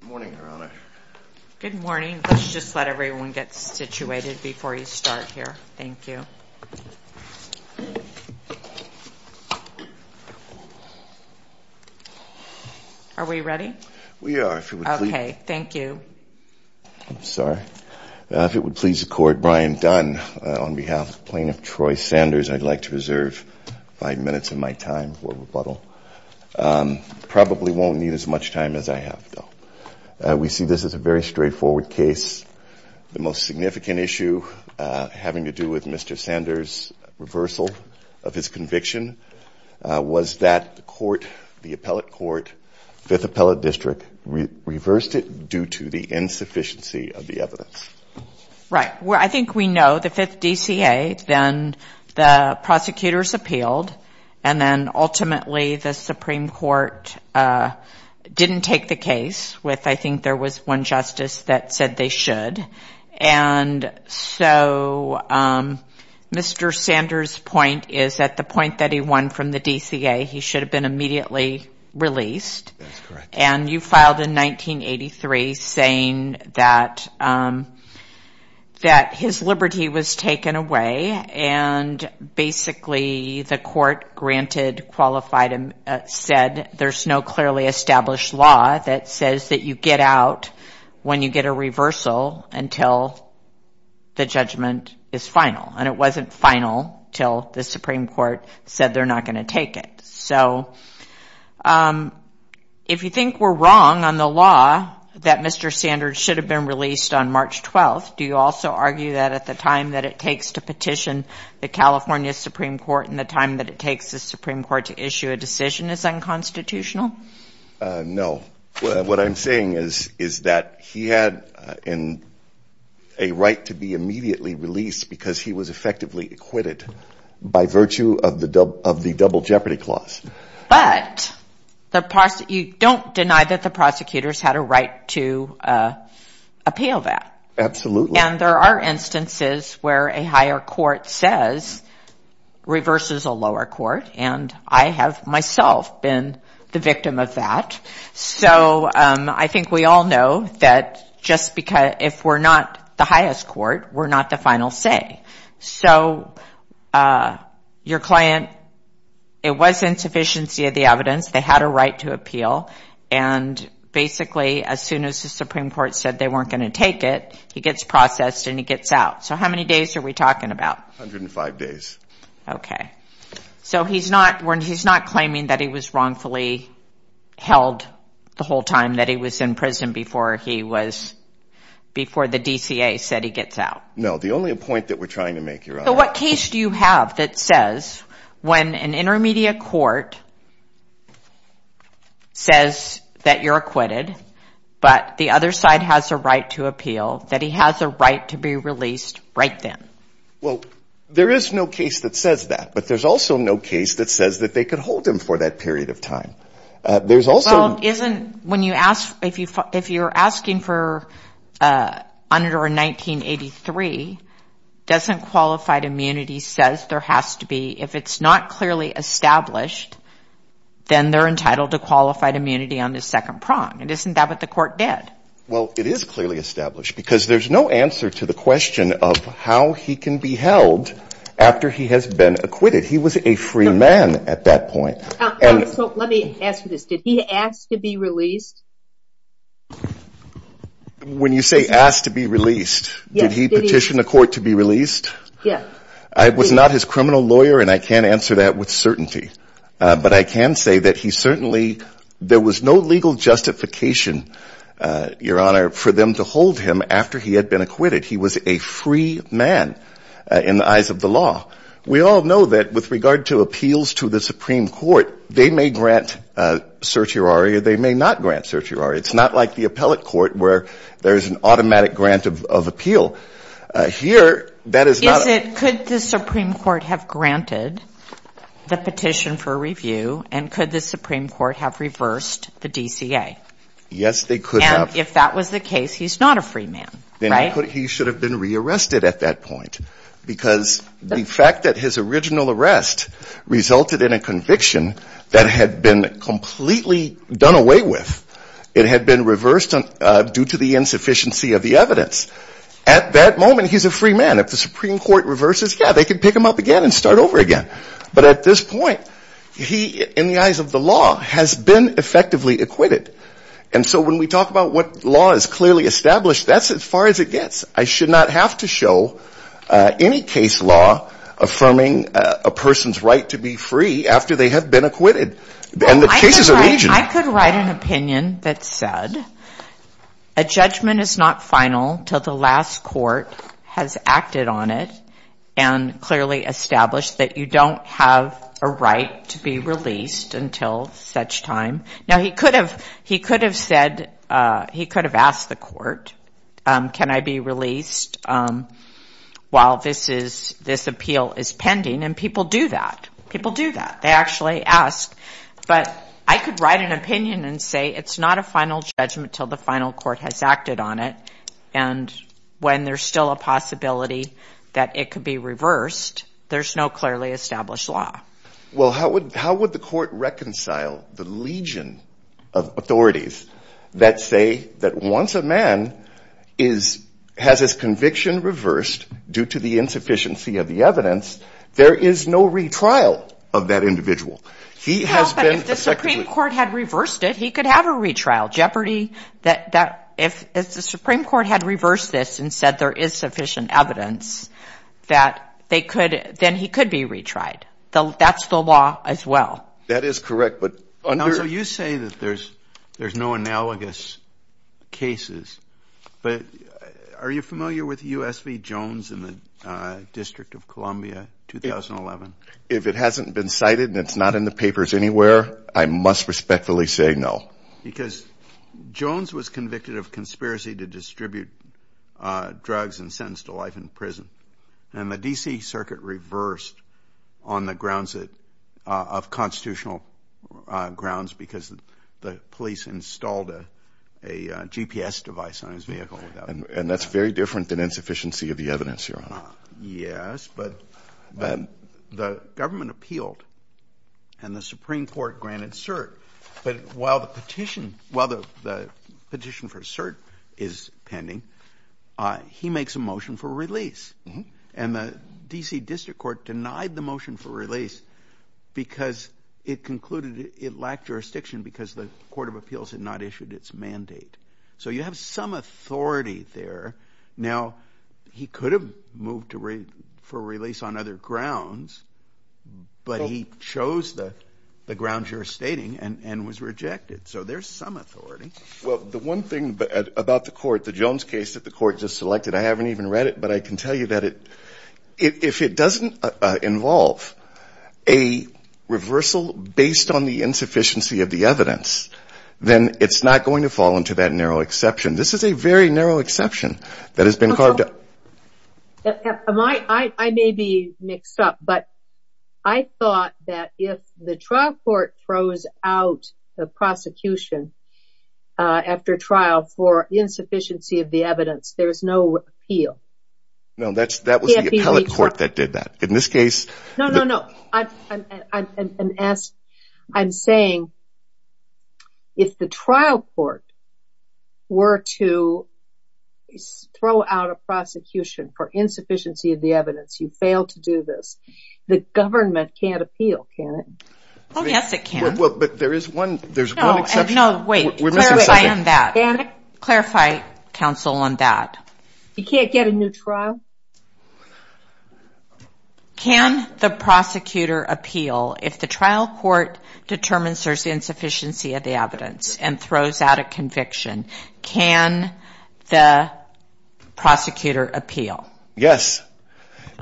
Good morning, Your Honor. Good morning. Let's just let everyone get situated before you start here. Thank you. Are we ready? We are. Okay, thank you. I'm sorry. If it would please the Court, Brian Dunn, on behalf of Plaintiff Troy Sanders, I'd like to reserve five minutes of my time for rebuttal. Probably won't need as much time as I have, though. We see this as a very straightforward case. The most significant issue having to do with Mr. Sanders' reversal of his conviction was that the Court, the Appellate Court, 5th Appellate District, reversed it due to the insufficiency of the evidence. Right. I think we know the 5th DCA, then the prosecutors appealed, and then ultimately the Supreme Court didn't take the case. I think there was one justice that said they should. And so Mr. Sanders' point is that the point that he won from the DCA, he should have been immediately released. That's correct. And you filed in 1983 saying that his liberty was taken away. And basically the Court granted, qualified, and said there's no clearly established law that says that you get out when you get a reversal until the judgment is final. And it wasn't final until the Supreme Court said they're not going to take it. So if you think we're wrong on the law that Mr. Sanders should have been released on March 12th, do you also argue that at the time that it takes to petition the California Supreme Court and the time that it takes the Supreme Court to issue a decision is unconstitutional? No. What I'm saying is that he had a right to be immediately released because he was effectively acquitted by virtue of the double jeopardy clause. But you don't deny that the prosecutors had a right to appeal that. Absolutely. And there are instances where a higher court says, reverses a lower court, and I have myself been the victim of that. So I think we all know that just because if we're not the highest court, we're not the final say. So your client, it was insufficiency of the evidence. They had a right to appeal. And basically as soon as the Supreme Court said they weren't going to take it, he gets processed and he gets out. So how many days are we talking about? 105 days. Okay. So he's not claiming that he was wrongfully held the whole time that he was in prison before the DCA said he gets out. No. The only point that we're trying to make, Your Honor. So what case do you have that says when an intermediate court says that you're acquitted, but the other side has a right to appeal, that he has a right to be released right then? Well, there is no case that says that. But there's also no case that says that they could hold him for that period of time. There's also... Well, isn't, when you ask, if you're asking for under 1983, doesn't qualify to be released if it's not clearly established, then they're entitled to qualified immunity on the second prong. And isn't that what the court did? Well, it is clearly established, because there's no answer to the question of how he can be held after he has been acquitted. He was a free man at that point. So let me ask you this. Did he ask to be released? When you say asked to be released, did he petition the court to be released? Yes. I was not his criminal lawyer, and I can't answer that with certainty. But I can say that he certainly, there was no legal justification, Your Honor, for them to hold him after he had been acquitted. He was a free man in the eyes of the law. We all know that with regard to appeals to the Supreme Court, they may grant certiorari or they may not grant certiorari. It's not like the appellate court where there's an automatic grant of appeal. Here, that is not a... Is it, could the Supreme Court have granted the petition for review, and could the Supreme Court have reversed the DCA? Yes, they could have. And if that was the case, he's not a free man, right? Then he should have been rearrested at that point, because the fact that his original arrest resulted in a conviction that had been completely done away with, it had been reversed due to the insufficiency of the evidence, at that moment, he's a free man. If the Supreme Court reverses, yeah, they could pick him up again and start over again. But at this point, he, in the eyes of the law, has been effectively acquitted. And so when we talk about what law is clearly established, that's as far as it gets. I should not have to show any case law affirming a person's right to be free after they have been acquitted. And the cases are... I could write an opinion that said, a judgment is not final until the last court has acted on it and clearly established that you don't have a right to be released until such time. Now, he could have said, he could have asked the court, can I be released while this appeal is pending? And people do that. People do that. They actually ask. But I could write an opinion and say, it's not a final judgment until the final court has acted on it. And when there's still a possibility that it could be reversed, there's no clearly established law. Well, how would the court reconcile the legion of authorities that say that once a man has his conviction reversed due to the insufficiency of the evidence, there is no retrial of that individual? No, but if the Supreme Court had reversed it, he could have a retrial. If the Supreme Court had reversed this and said there is sufficient evidence, then he could be retried. That's the law as well. That is correct, but... Counsel, you say that there's no analogous cases, but are you familiar with U.S. v. Jones in the District of Columbia, 2011? If it hasn't been cited and it's not in the papers anywhere, I must respectfully say no. Because Jones was convicted of conspiracy to distribute drugs and sentenced to life in prison. And the D.C. Circuit reversed on the grounds of constitutional grounds because the police installed a GPS device on his vehicle. And that's very different than insufficiency of the evidence, Your Honor. Yes, but the government appealed and the Supreme Court granted cert. But while the petition for cert is pending, he makes a motion for release. And the D.C. District Court denied the motion for release because it concluded it lacked jurisdiction because the Court of Appeals had not issued its mandate. So you have some authority there. Now, he could have moved for release on other grounds, but he chose the grounds you're stating and was rejected. So there's some authority. Well, the one thing about the court, the Jones case that the court just selected, I haven't even read it, but I can tell you that if it doesn't involve a reversal based on the insufficiency of the evidence, then it's not going to fall into that category. This is a very narrow exception that has been carved out. I may be mixed up, but I thought that if the trial court throws out the prosecution after trial for insufficiency of the evidence, there is no appeal. No, that was the appellate court that did that. No, no, no. I'm saying if the trial court were to throw out a prosecution for insufficiency of the evidence, you fail to do this. The government can't appeal, can it? Oh, yes, it can. Well, but there is one exception. No, wait. Clarify on that. Clarify, counsel, on that. You can't get a new trial? Can the prosecutor appeal if the trial court determines there's insufficiency of the evidence and throws out a conviction? Can the prosecutor appeal? Yes.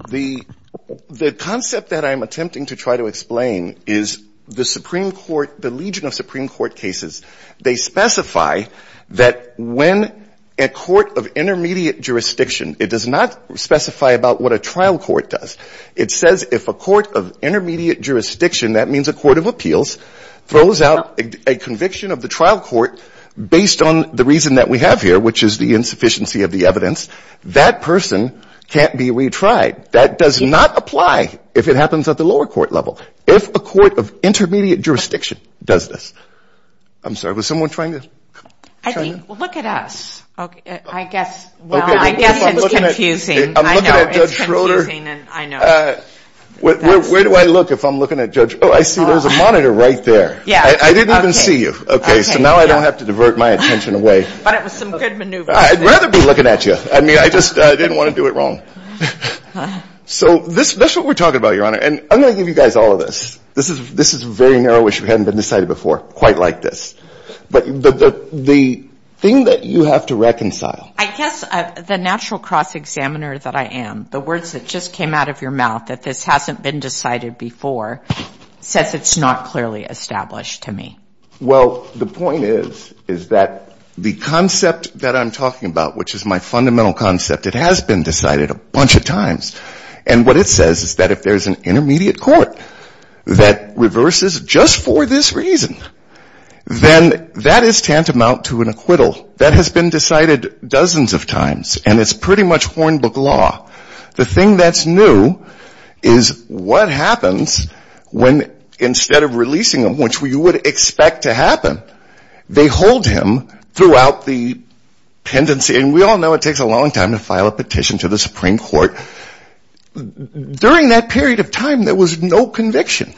The concept that I'm attempting to try to explain is the Supreme Court, the legion of Supreme Court cases. They specify that when a court of intermediate jurisdiction, it does not specify about what a trial court does. It says if a court of intermediate jurisdiction, that means a court of appeals, throws out a conviction of the trial court based on the reason that we have here, which is the insufficiency of the evidence. That person can't be retried. That does not apply if it happens at the lower court level. If a court of intermediate jurisdiction does this. I'm sorry. Was someone trying to? Look at us. I guess it's confusing. I know. It's confusing. I know. Where do I look if I'm looking at Judge? Oh, I see. There's a monitor right there. I didn't even see you. Okay. So now I don't have to divert my attention away. But it was some good maneuver. I'd rather be looking at you. I mean, I just didn't want to do it wrong. So this is what we're talking about, Your Honor. And I'm going to give you guys all of this. This is this is very narrow issue. Hadn't been decided before quite like this. But the thing that you have to reconcile. I guess the natural cross examiner that I am, the words that just came out of your mouth that this hasn't been decided before, says it's not clearly established to me. Well, the point is, is that the concept that I'm talking about, which is my fundamental concept, it has been decided a bunch of times. And what it says is that if there's an intermediate court that reverses just for this reason, then that is tantamount to an acquittal. That has been decided dozens of times. And it's pretty much Hornbook law. The thing that's new is what happens when instead of releasing them, which we would expect to happen, we release them. They hold him throughout the tendency. And we all know it takes a long time to file a petition to the Supreme Court. During that period of time, there was no conviction.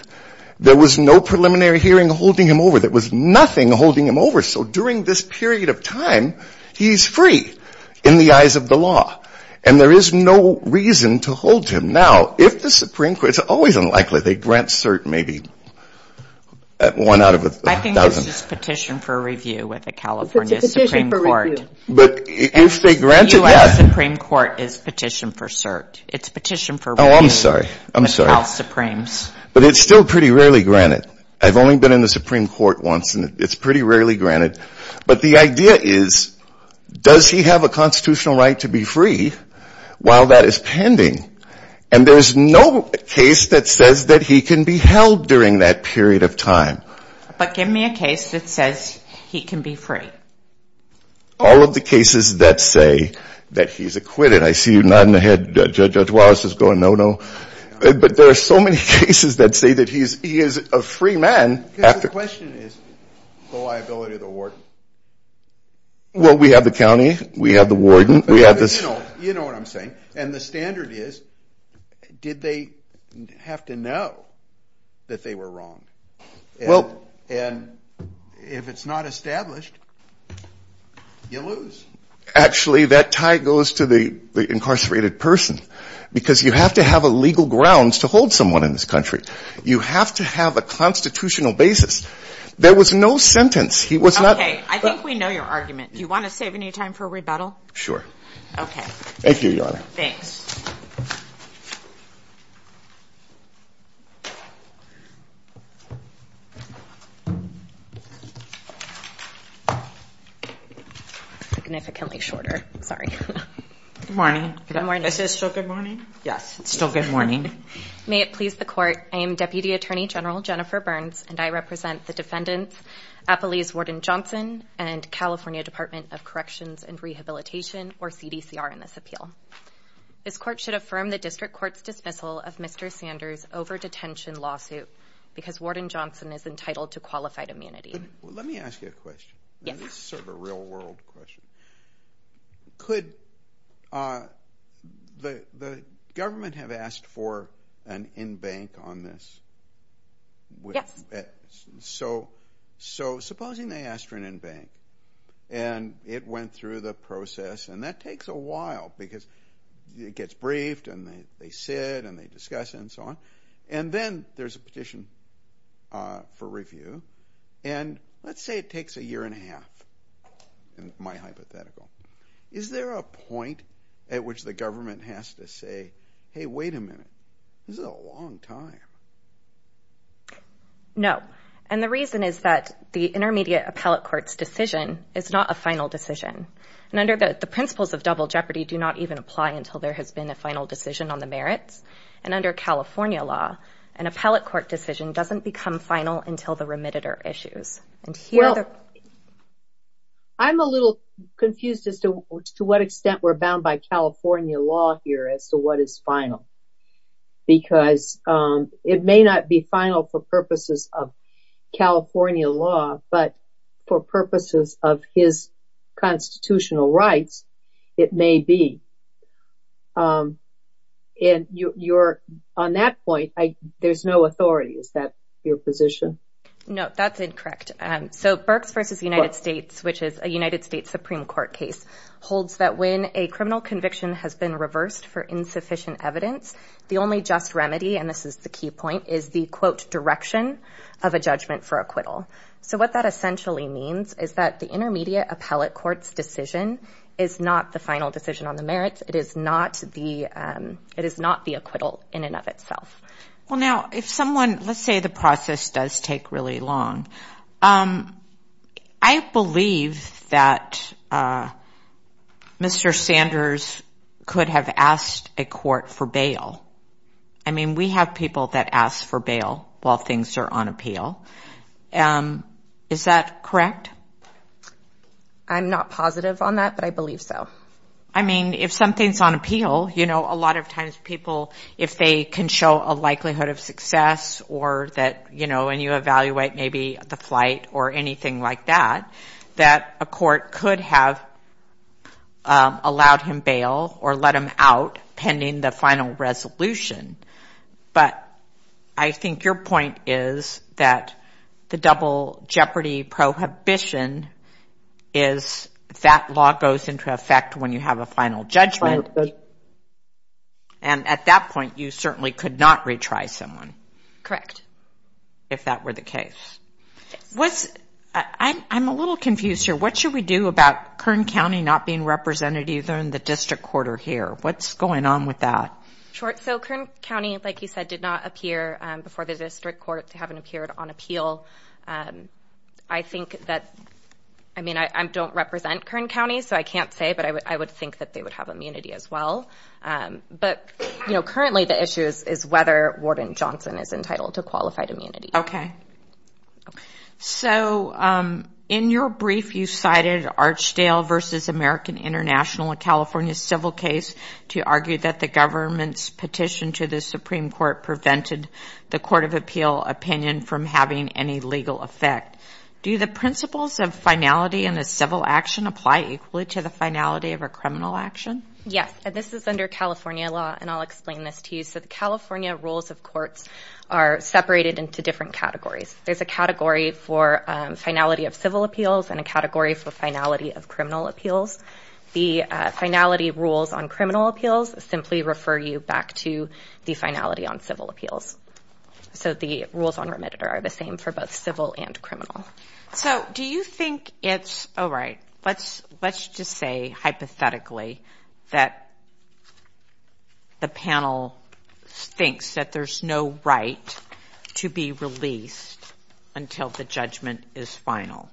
There was no preliminary hearing holding him over. There was nothing holding him over. So during this period of time, he's free in the eyes of the law. And there is no reason to hold him. Now, if the Supreme Court, it's always unlikely they grant cert maybe one out of a dozen. I think it's just petition for review with the California Supreme Court. But if they grant it, yes. The U.S. Supreme Court is petition for cert. It's petition for review with the House Supremes. Oh, I'm sorry. I'm sorry. But it's still pretty rarely granted. I've only been in the Supreme Court once and it's pretty rarely granted. But the idea is, does he have a constitutional right to be free while that is pending? And there's no case that says that he can be held during that period of time. But give me a case that says he can be free. All of the cases that say that he's acquitted. I see you nodding your head. Judge Wallace is going, no, no. But there are so many cases that say that he is a free man. The question is the liability of the warden. Well, we have the county. We have the warden. You know what I'm saying. And the standard is, did they have to know that they were wrong? And if it's not established, you lose. Actually, that tie goes to the incarcerated person. Because you have to have a legal grounds to hold someone in this country. You have to have a constitutional basis. There was no sentence. He was not... Okay. I think we know your argument. Do you want to save any time for rebuttal? Sure. Okay. Significantly shorter. Sorry. Yes. It's still good morning. May it please the court. I am Deputy Attorney General Jennifer Burns. And I represent the defendants, Appalese Warden Johnson, and California Department of Corrections and Rehabilitation, or CDCR in this appeal. This court should affirm the district court's dismissal of Mr. Sanders' over-detention lawsuit because Warden Johnson is entitled to qualified immunity. Let me ask you a question. This is sort of a real-world question. Could the government have asked for an in-bank on this? Yes. So supposing they asked for an in-bank, and it went through the process, and that takes a while because it gets briefed, and they sit, and they discuss it, and so on. And then there's a petition for review. And let's say it takes a year and a half, in my hypothetical. Is there a point at which the government has to say, hey, wait a minute, this is a long time? No. And the reason is that the intermediate appellate court's decision is not a final decision. And under the principles of double jeopardy do not even apply until there has been a final decision on the merits. And under California law, an appellate court decision doesn't become final until the remitted are issued. I'm a little confused as to what extent we're bound by California law here as to what is final. Because it may not be final for purposes of California law, but for purposes of his constitutional rights, it may be. And on that point, there's no authority. Is that your position? No, that's incorrect. So Birx v. United States, which is a United States Supreme Court case, holds that when a criminal conviction has been reversed for insufficient evidence, the only just remedy, and this is the key point, is the, quote, direction of a judgment for acquittal. It is not the merits. It is not the acquittal in and of itself. Well, now, if someone, let's say the process does take really long. I believe that Mr. Sanders could have asked a court for bail. I mean, we have people that ask for bail while things are on appeal. Is that correct? I'm not positive on that, but I believe so. I mean, if something's on appeal, you know, a lot of times people, if they can show a likelihood of success or that, you know, when you evaluate maybe the flight or anything like that, that a court could have allowed him bail or let him out pending the final resolution. But I think your point is that the double jeopardy prohibition is that law goes into effect when you have a final judgment. And at that point, you certainly could not retry someone. If that were the case. I'm a little confused here. What should we do about Kern County not being represented either in the district court or here? What's going on with that? So Kern County, like you said, did not appear before the district court. They haven't appeared on appeal. I think that, I mean, I don't represent Kern County, so I can't say, but I would think that they would have immunity as well. But, you know, currently the issue is whether Warden Johnson is entitled to qualified immunity. Okay. So in your brief, you cited Archdale v. American International, a California civil case, to argue that the government's petition to the Supreme Court prevented the court of appeal opinion from having any legal effect. Do the principles of finality in a civil action apply equally to the finality of a criminal action? Yes. And this is under California law, and I'll explain this to you. So the California rules of courts are separated into different categories. There's a category for finality of civil appeals and a category for finality of criminal appeals. The finality rules on criminal appeals simply refer you back to the finality on civil appeals. So the rules on remediator are the same for both civil and criminal. So do you think it's, all right, let's just say hypothetically that the panel thinks that there's no right to be released. Until the judgment is final.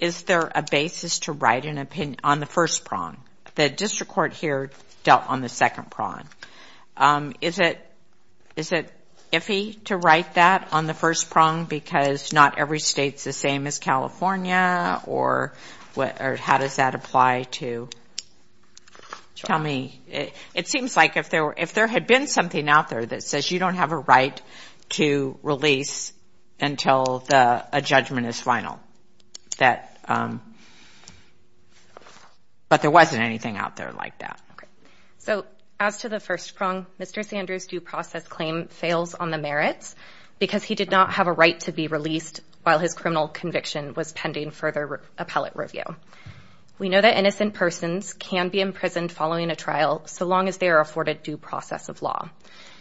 Is there a basis to write an opinion on the first prong? The district court here dealt on the second prong. Is it iffy to write that on the first prong because not every state's the same as California? Or how does that apply to, tell me? It seems like if there had been something out there that says you don't have a right to release until a judgment is final. But there wasn't anything out there like that. So as to the first prong, Mr. Sanders' due process claim fails on the merits because he did not have a right to be released while his criminal conviction was pending further appellate review. We know that innocent persons can be imprisoned following a trial so long as they are afforded due process of law.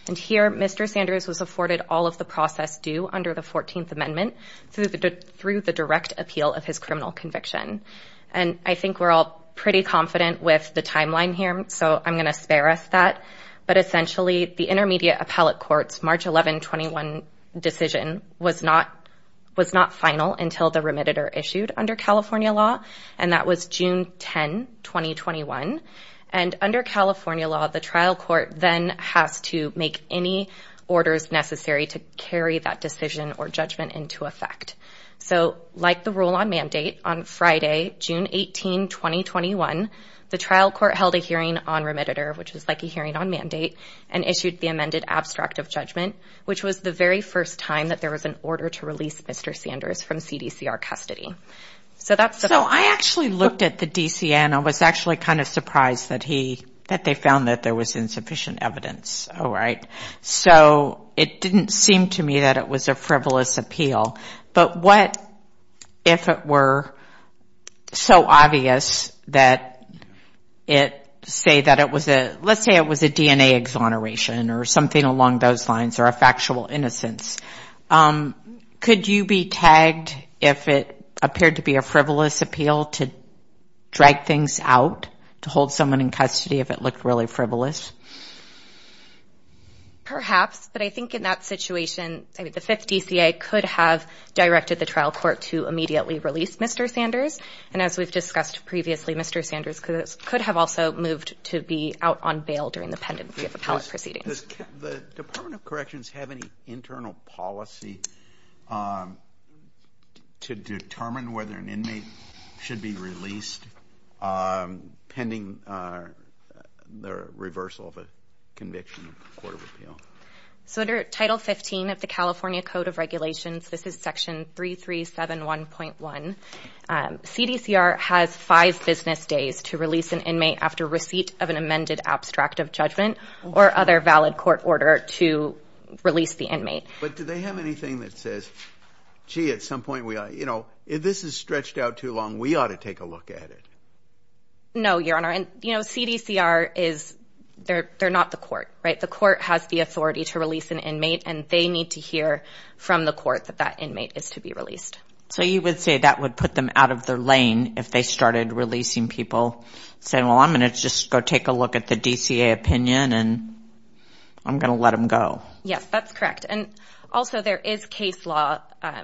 And here, Mr. Sanders was afforded all of the process due under the 14th Amendment through the direct appeal of his criminal conviction. And I think we're all pretty confident with the timeline here, so I'm going to spare us that. But essentially, the intermediate appellate court's March 11, 21 decision was not final until the remediator issued under California law. And that was June 10, 2021. And under California law, the trial court then has to make any orders necessary to carry that decision or judgment into effect. So like the rule on mandate, on Friday, June 18, 2021, the trial court held a hearing on remediator, which was like a hearing on mandate, and issued the amended abstract of judgment, which was the very first time that there was an order to release Mr. Sanders from CDCR custody. So I actually looked at the DCN. I was actually kind of surprised that they found that there was insufficient evidence. So it didn't seem to me that it was a frivolous appeal. But what if it were so obvious that it say that it was a, let's say it was a DNA exoneration, or something along those lines, or a factual innocence. Could you be tagged if it appeared to be a frivolous appeal to drag things out, to hold someone in custody if it looked really frivolous? Perhaps, but I think in that situation, the fifth DCA could have directed the trial court to immediately release Mr. Sanders. And as we've discussed previously, Mr. Sanders could have also moved to be out on bail during the pendency of the appellate proceeding. Does the Department of Corrections have any internal policy to determine whether an inmate should be released pending the reversal of a conviction in the court of appeal? So under Title 15 of the California Code of Regulations, this is Section 3371.1, CDCR has five business days to release an inmate after receipt of an amended abstract of judgment, or other valid court order to release the inmate. But do they have anything that says, gee, at some point we ought to, you know, if this is stretched out too long, we ought to take a look at it? No, Your Honor, and, you know, CDCR is, they're not the court, right? The court has the authority to release an inmate, and they need to hear from the court that that inmate is to be released. So you would say that would put them out of their lane if they started releasing people, saying, well, I'm going to just go take a look at the DCA opinion, and I'm going to let them go. Yes, that's correct, and also there is case law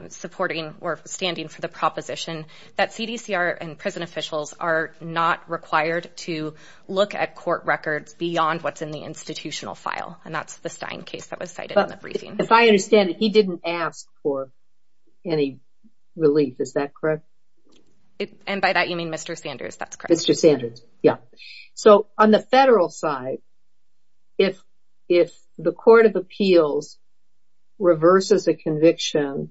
supporting or standing for the proposition that CDCR and prison officials are not required to look at court records beyond what's in the institutional file, and that's the Stein case that was cited in the briefing. If I understand it, he didn't ask for any relief, is that correct? And by that you mean Mr. Sanders, that's correct. Mr. Sanders, yeah. So on the federal side, if the Court of Appeals reverses a conviction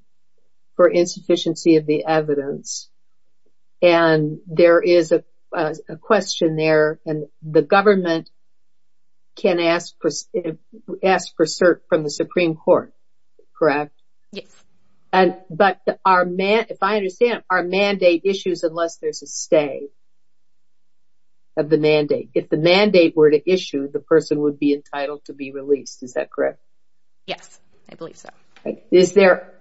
for insufficiency of the evidence, and there is a question there, and the government can ask for cert from the Supreme Court, correct? Yes. But if I understand, are mandate issues unless there's a stay of the mandate? If the mandate were to issue, the person would be entitled to be released, is that correct? Yes, I believe so. Is there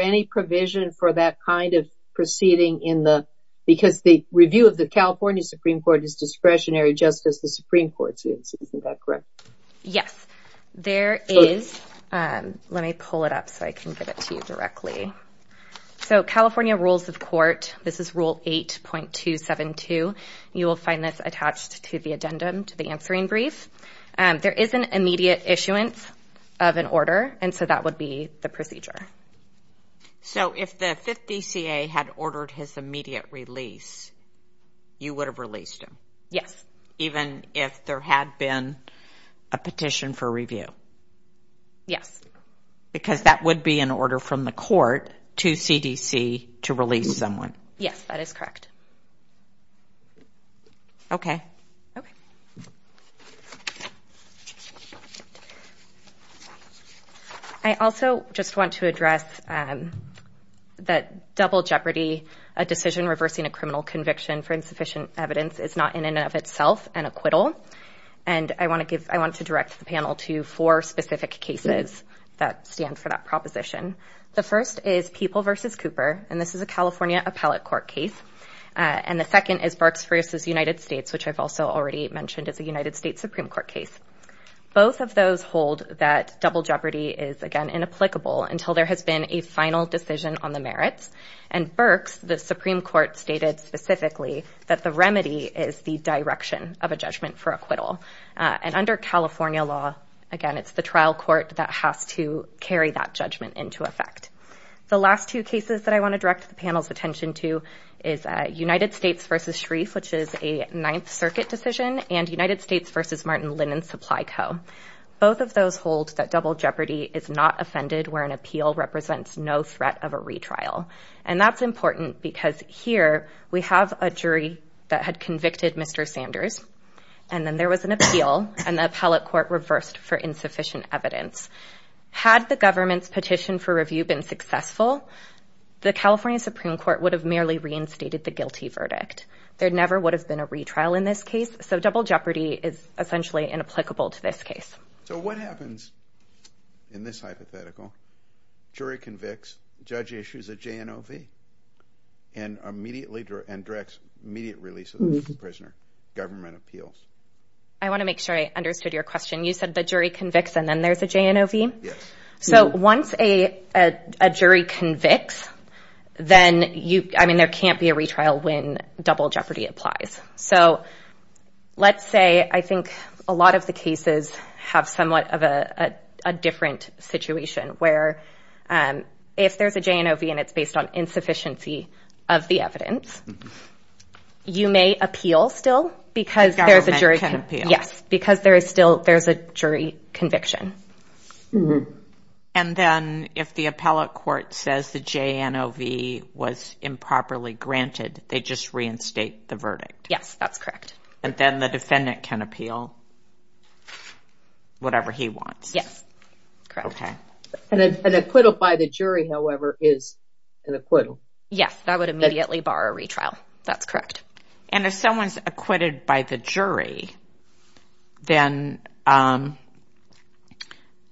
any provision for that kind of proceeding, because the review of the California Supreme Court is discretionary, just as the Supreme Court's is, is that correct? Yes, there is. Let me pull it up so I can get it to you directly. So California Rules of Court, this is Rule 8.272. You will find this attached to the addendum to the answering brief. There is an immediate issuance of an order, and so that would be the procedure. So if the 5th DCA had ordered his immediate release, you would have released him? Yes. Even if there had been a petition for review? Yes. Because that would be an order from the court to CDC to release someone. Yes, that is correct. Okay. I also just want to address that double jeopardy, a decision reversing a criminal conviction for insufficient evidence is not in and of itself an acquittal. And I want to direct the panel to four specific cases that stand for that proposition. The first is People v. Cooper, and this is a California appellate court case. And the second is Burks v. United States, which I've also already mentioned is a United States Supreme Court case. Both of those hold that double jeopardy is, again, inapplicable until there has been a final decision on the merits. And Burks, the Supreme Court, stated specifically that the remedy is the direction of a judgment for acquittal. And under California law, again, it's the trial court that has to carry that judgment into court. And that's what this case is going to affect. The last two cases that I want to direct the panel's attention to is United States v. Shreve, which is a Ninth Circuit decision, and United States v. Martin Linen Supply Co. Both of those hold that double jeopardy is not offended where an appeal represents no threat of a retrial. And that's important because here we have a jury that had convicted Mr. Sanders, and then there was an appeal, and the appellate court reversed for insufficient evidence. And if the review had been successful, the California Supreme Court would have merely reinstated the guilty verdict. There never would have been a retrial in this case, so double jeopardy is essentially inapplicable to this case. So what happens in this hypothetical? Jury convicts, judge issues a JNOV, and directs immediate release of the prisoner. Government appeals. I want to make sure I understood your question. You said the jury convicts, and then there's a JNOV? Yes. So once a jury convicts, then you – I mean, there can't be a retrial when double jeopardy applies. So let's say I think a lot of the cases have somewhat of a different situation, where if there's a JNOV and it's based on insufficiency of the evidence, you may appeal still because there's a jury – Yes, because there is still – there's a jury conviction. And then if the appellate court says the JNOV was improperly granted, they just reinstate the verdict? Yes, that's correct. And then the defendant can appeal whatever he wants? Yes, correct. An acquittal by the jury, however, is an acquittal. Yes, that would immediately bar a retrial. That's correct. And if someone's acquitted by the jury, then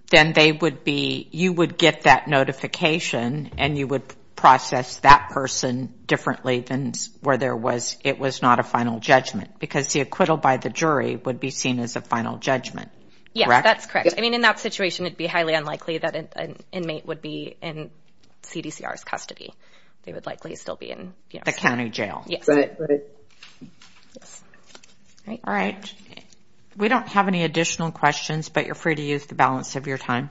they would be – you would get that notification, and you would process that person differently than where there was – it was not a final judgment, because the acquittal by the jury would be seen as a final judgment, correct? Yes, that's correct. I mean, in that situation, it would be highly unlikely that an inmate would be in CDCR's custody. They would likely still be in – The county jail. Yes. All right. We don't have any additional questions, but you're free to use the balance of your time.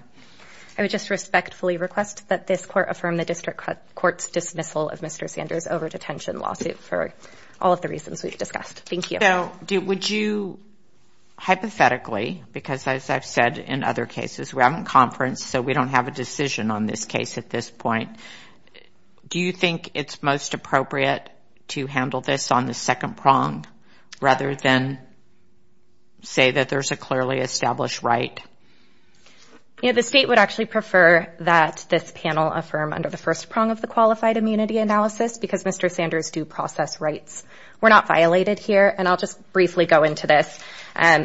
I would just respectfully request that this court affirm the district court's dismissal of Mr. Sanders' over-detention lawsuit for all of the reasons we've discussed. Thank you. So would you – hypothetically, because, as I've said in other cases, we haven't conferenced, so we don't have a decision on this case at this point, do you think it's most appropriate to handle this on the second prong, rather than say that there's a clearly established right? Yeah, the state would actually prefer that this panel affirm under the first prong of the qualified immunity analysis, because Mr. Sanders' due process rights were not violated here, and I'll just briefly go into this.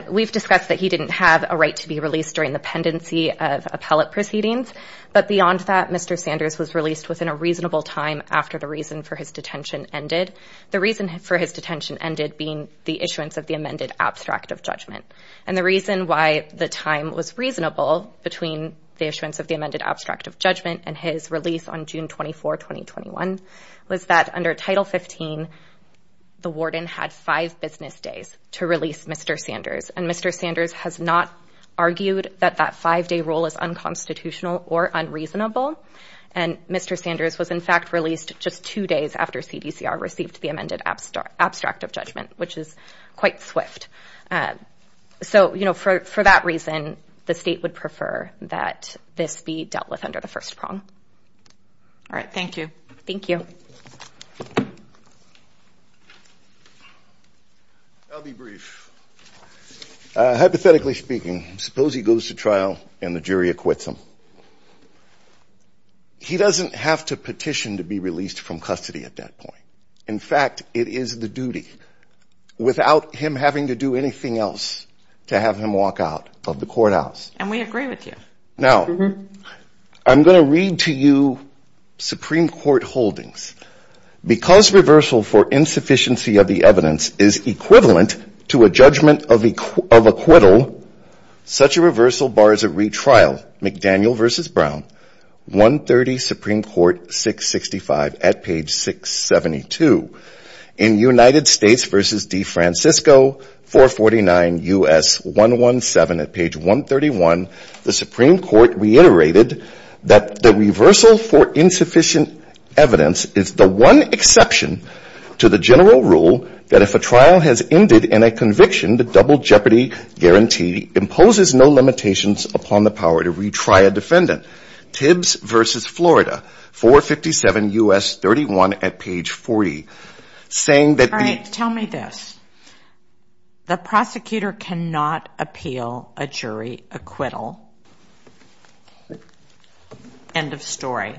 We've discussed that he didn't have a right to be released during the pendency of appellate proceedings, but beyond that, Mr. Sanders was released within a reasonable time after the reason for his detention ended, the reason for his detention ended being the issuance of the amended abstract of judgment. And the reason why the time was reasonable between the issuance of the amended abstract of judgment and his release on June 24, 2021, was that under Title 15, the warden had five business days to release Mr. Sanders, and Mr. Sanders has not argued that that five-day rule is unconstitutional or unreasonable, and Mr. Sanders was in fact released just two days after CDCR received the amended abstract of judgment, which is quite swift. So, you know, for that reason, the state would prefer that this be dealt with under the first prong. All right, thank you. I'll be brief. Hypothetically speaking, suppose he goes to trial and the jury acquits him. He doesn't have to petition to be released from custody at that point. In fact, it is the duty, without him having to do anything else, to have him walk out of the courthouse. And we agree with you. Now, I'm going to read to you Supreme Court holdings. Because reversal for insufficiency of the evidence is equivalent to a judgment of acquittal, such a reversal bars a retrial. McDaniel v. Brown, 130 Supreme Court, 665, at page 672. In United States v. DeFrancisco, 449 U.S. 117 at page 131, the Supreme Court reiterated that the reversal for insufficient evidence is the one exception to the general rule that if a trial has ended in a conviction, the double jeopardy guarantee imposes no limitations upon the power to retry a defendant. Tibbs v. Florida, 457 U.S. 31 at page 40. All right, tell me this. The prosecutor cannot appeal a jury acquittal. End of story.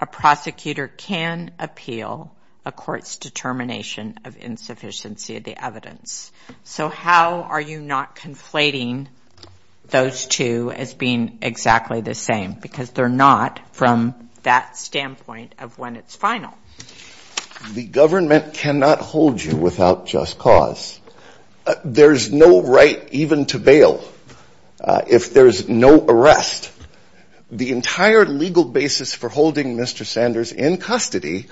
A prosecutor can appeal a court's determination of insufficiency of the evidence. So how are you not conflating those two as being exactly the same? Because they're not from that standpoint of when it's final. The government cannot hold you without just cause. There's no right even to bail if there's no arrest. The entire legal basis for holding Mr. Sanders in custody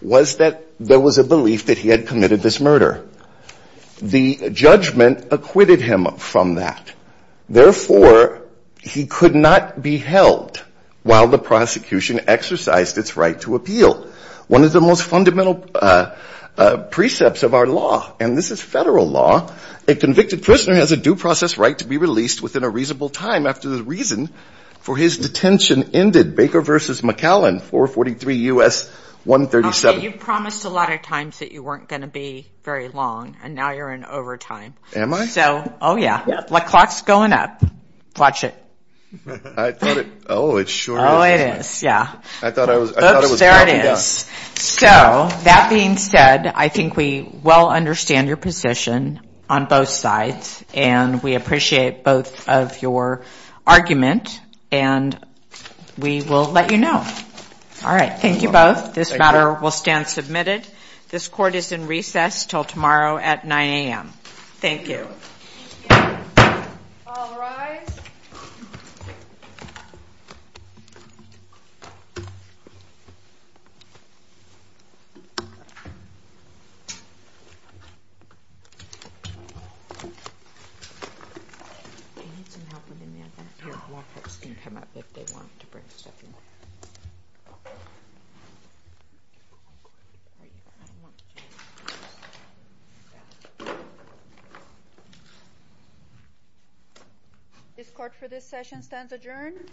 was that there was a belief that he had committed this murder. The judgment acquitted him from that. Therefore, he could not be held while the prosecution exercised its right to appeal. One of the most fundamental precepts of our law, and this is Federal law, a convicted prisoner has a due process right to be released within a reasonable time after the reason for his detention ended, Baker v. McAllen, 443 U.S. 137. You promised a lot of times that you weren't going to be very long, and now you're in overtime. Am I? Oh, yeah. The clock's going up. Watch it. Oops, there it is. So that being said, I think we well understand your position on both sides, and we appreciate both of your argument, and we will let you know. All right. Thank you both. This matter will stand submitted. This court is in recess until tomorrow at 9 a.m. I need some help with anything. This court for this session stands adjourned.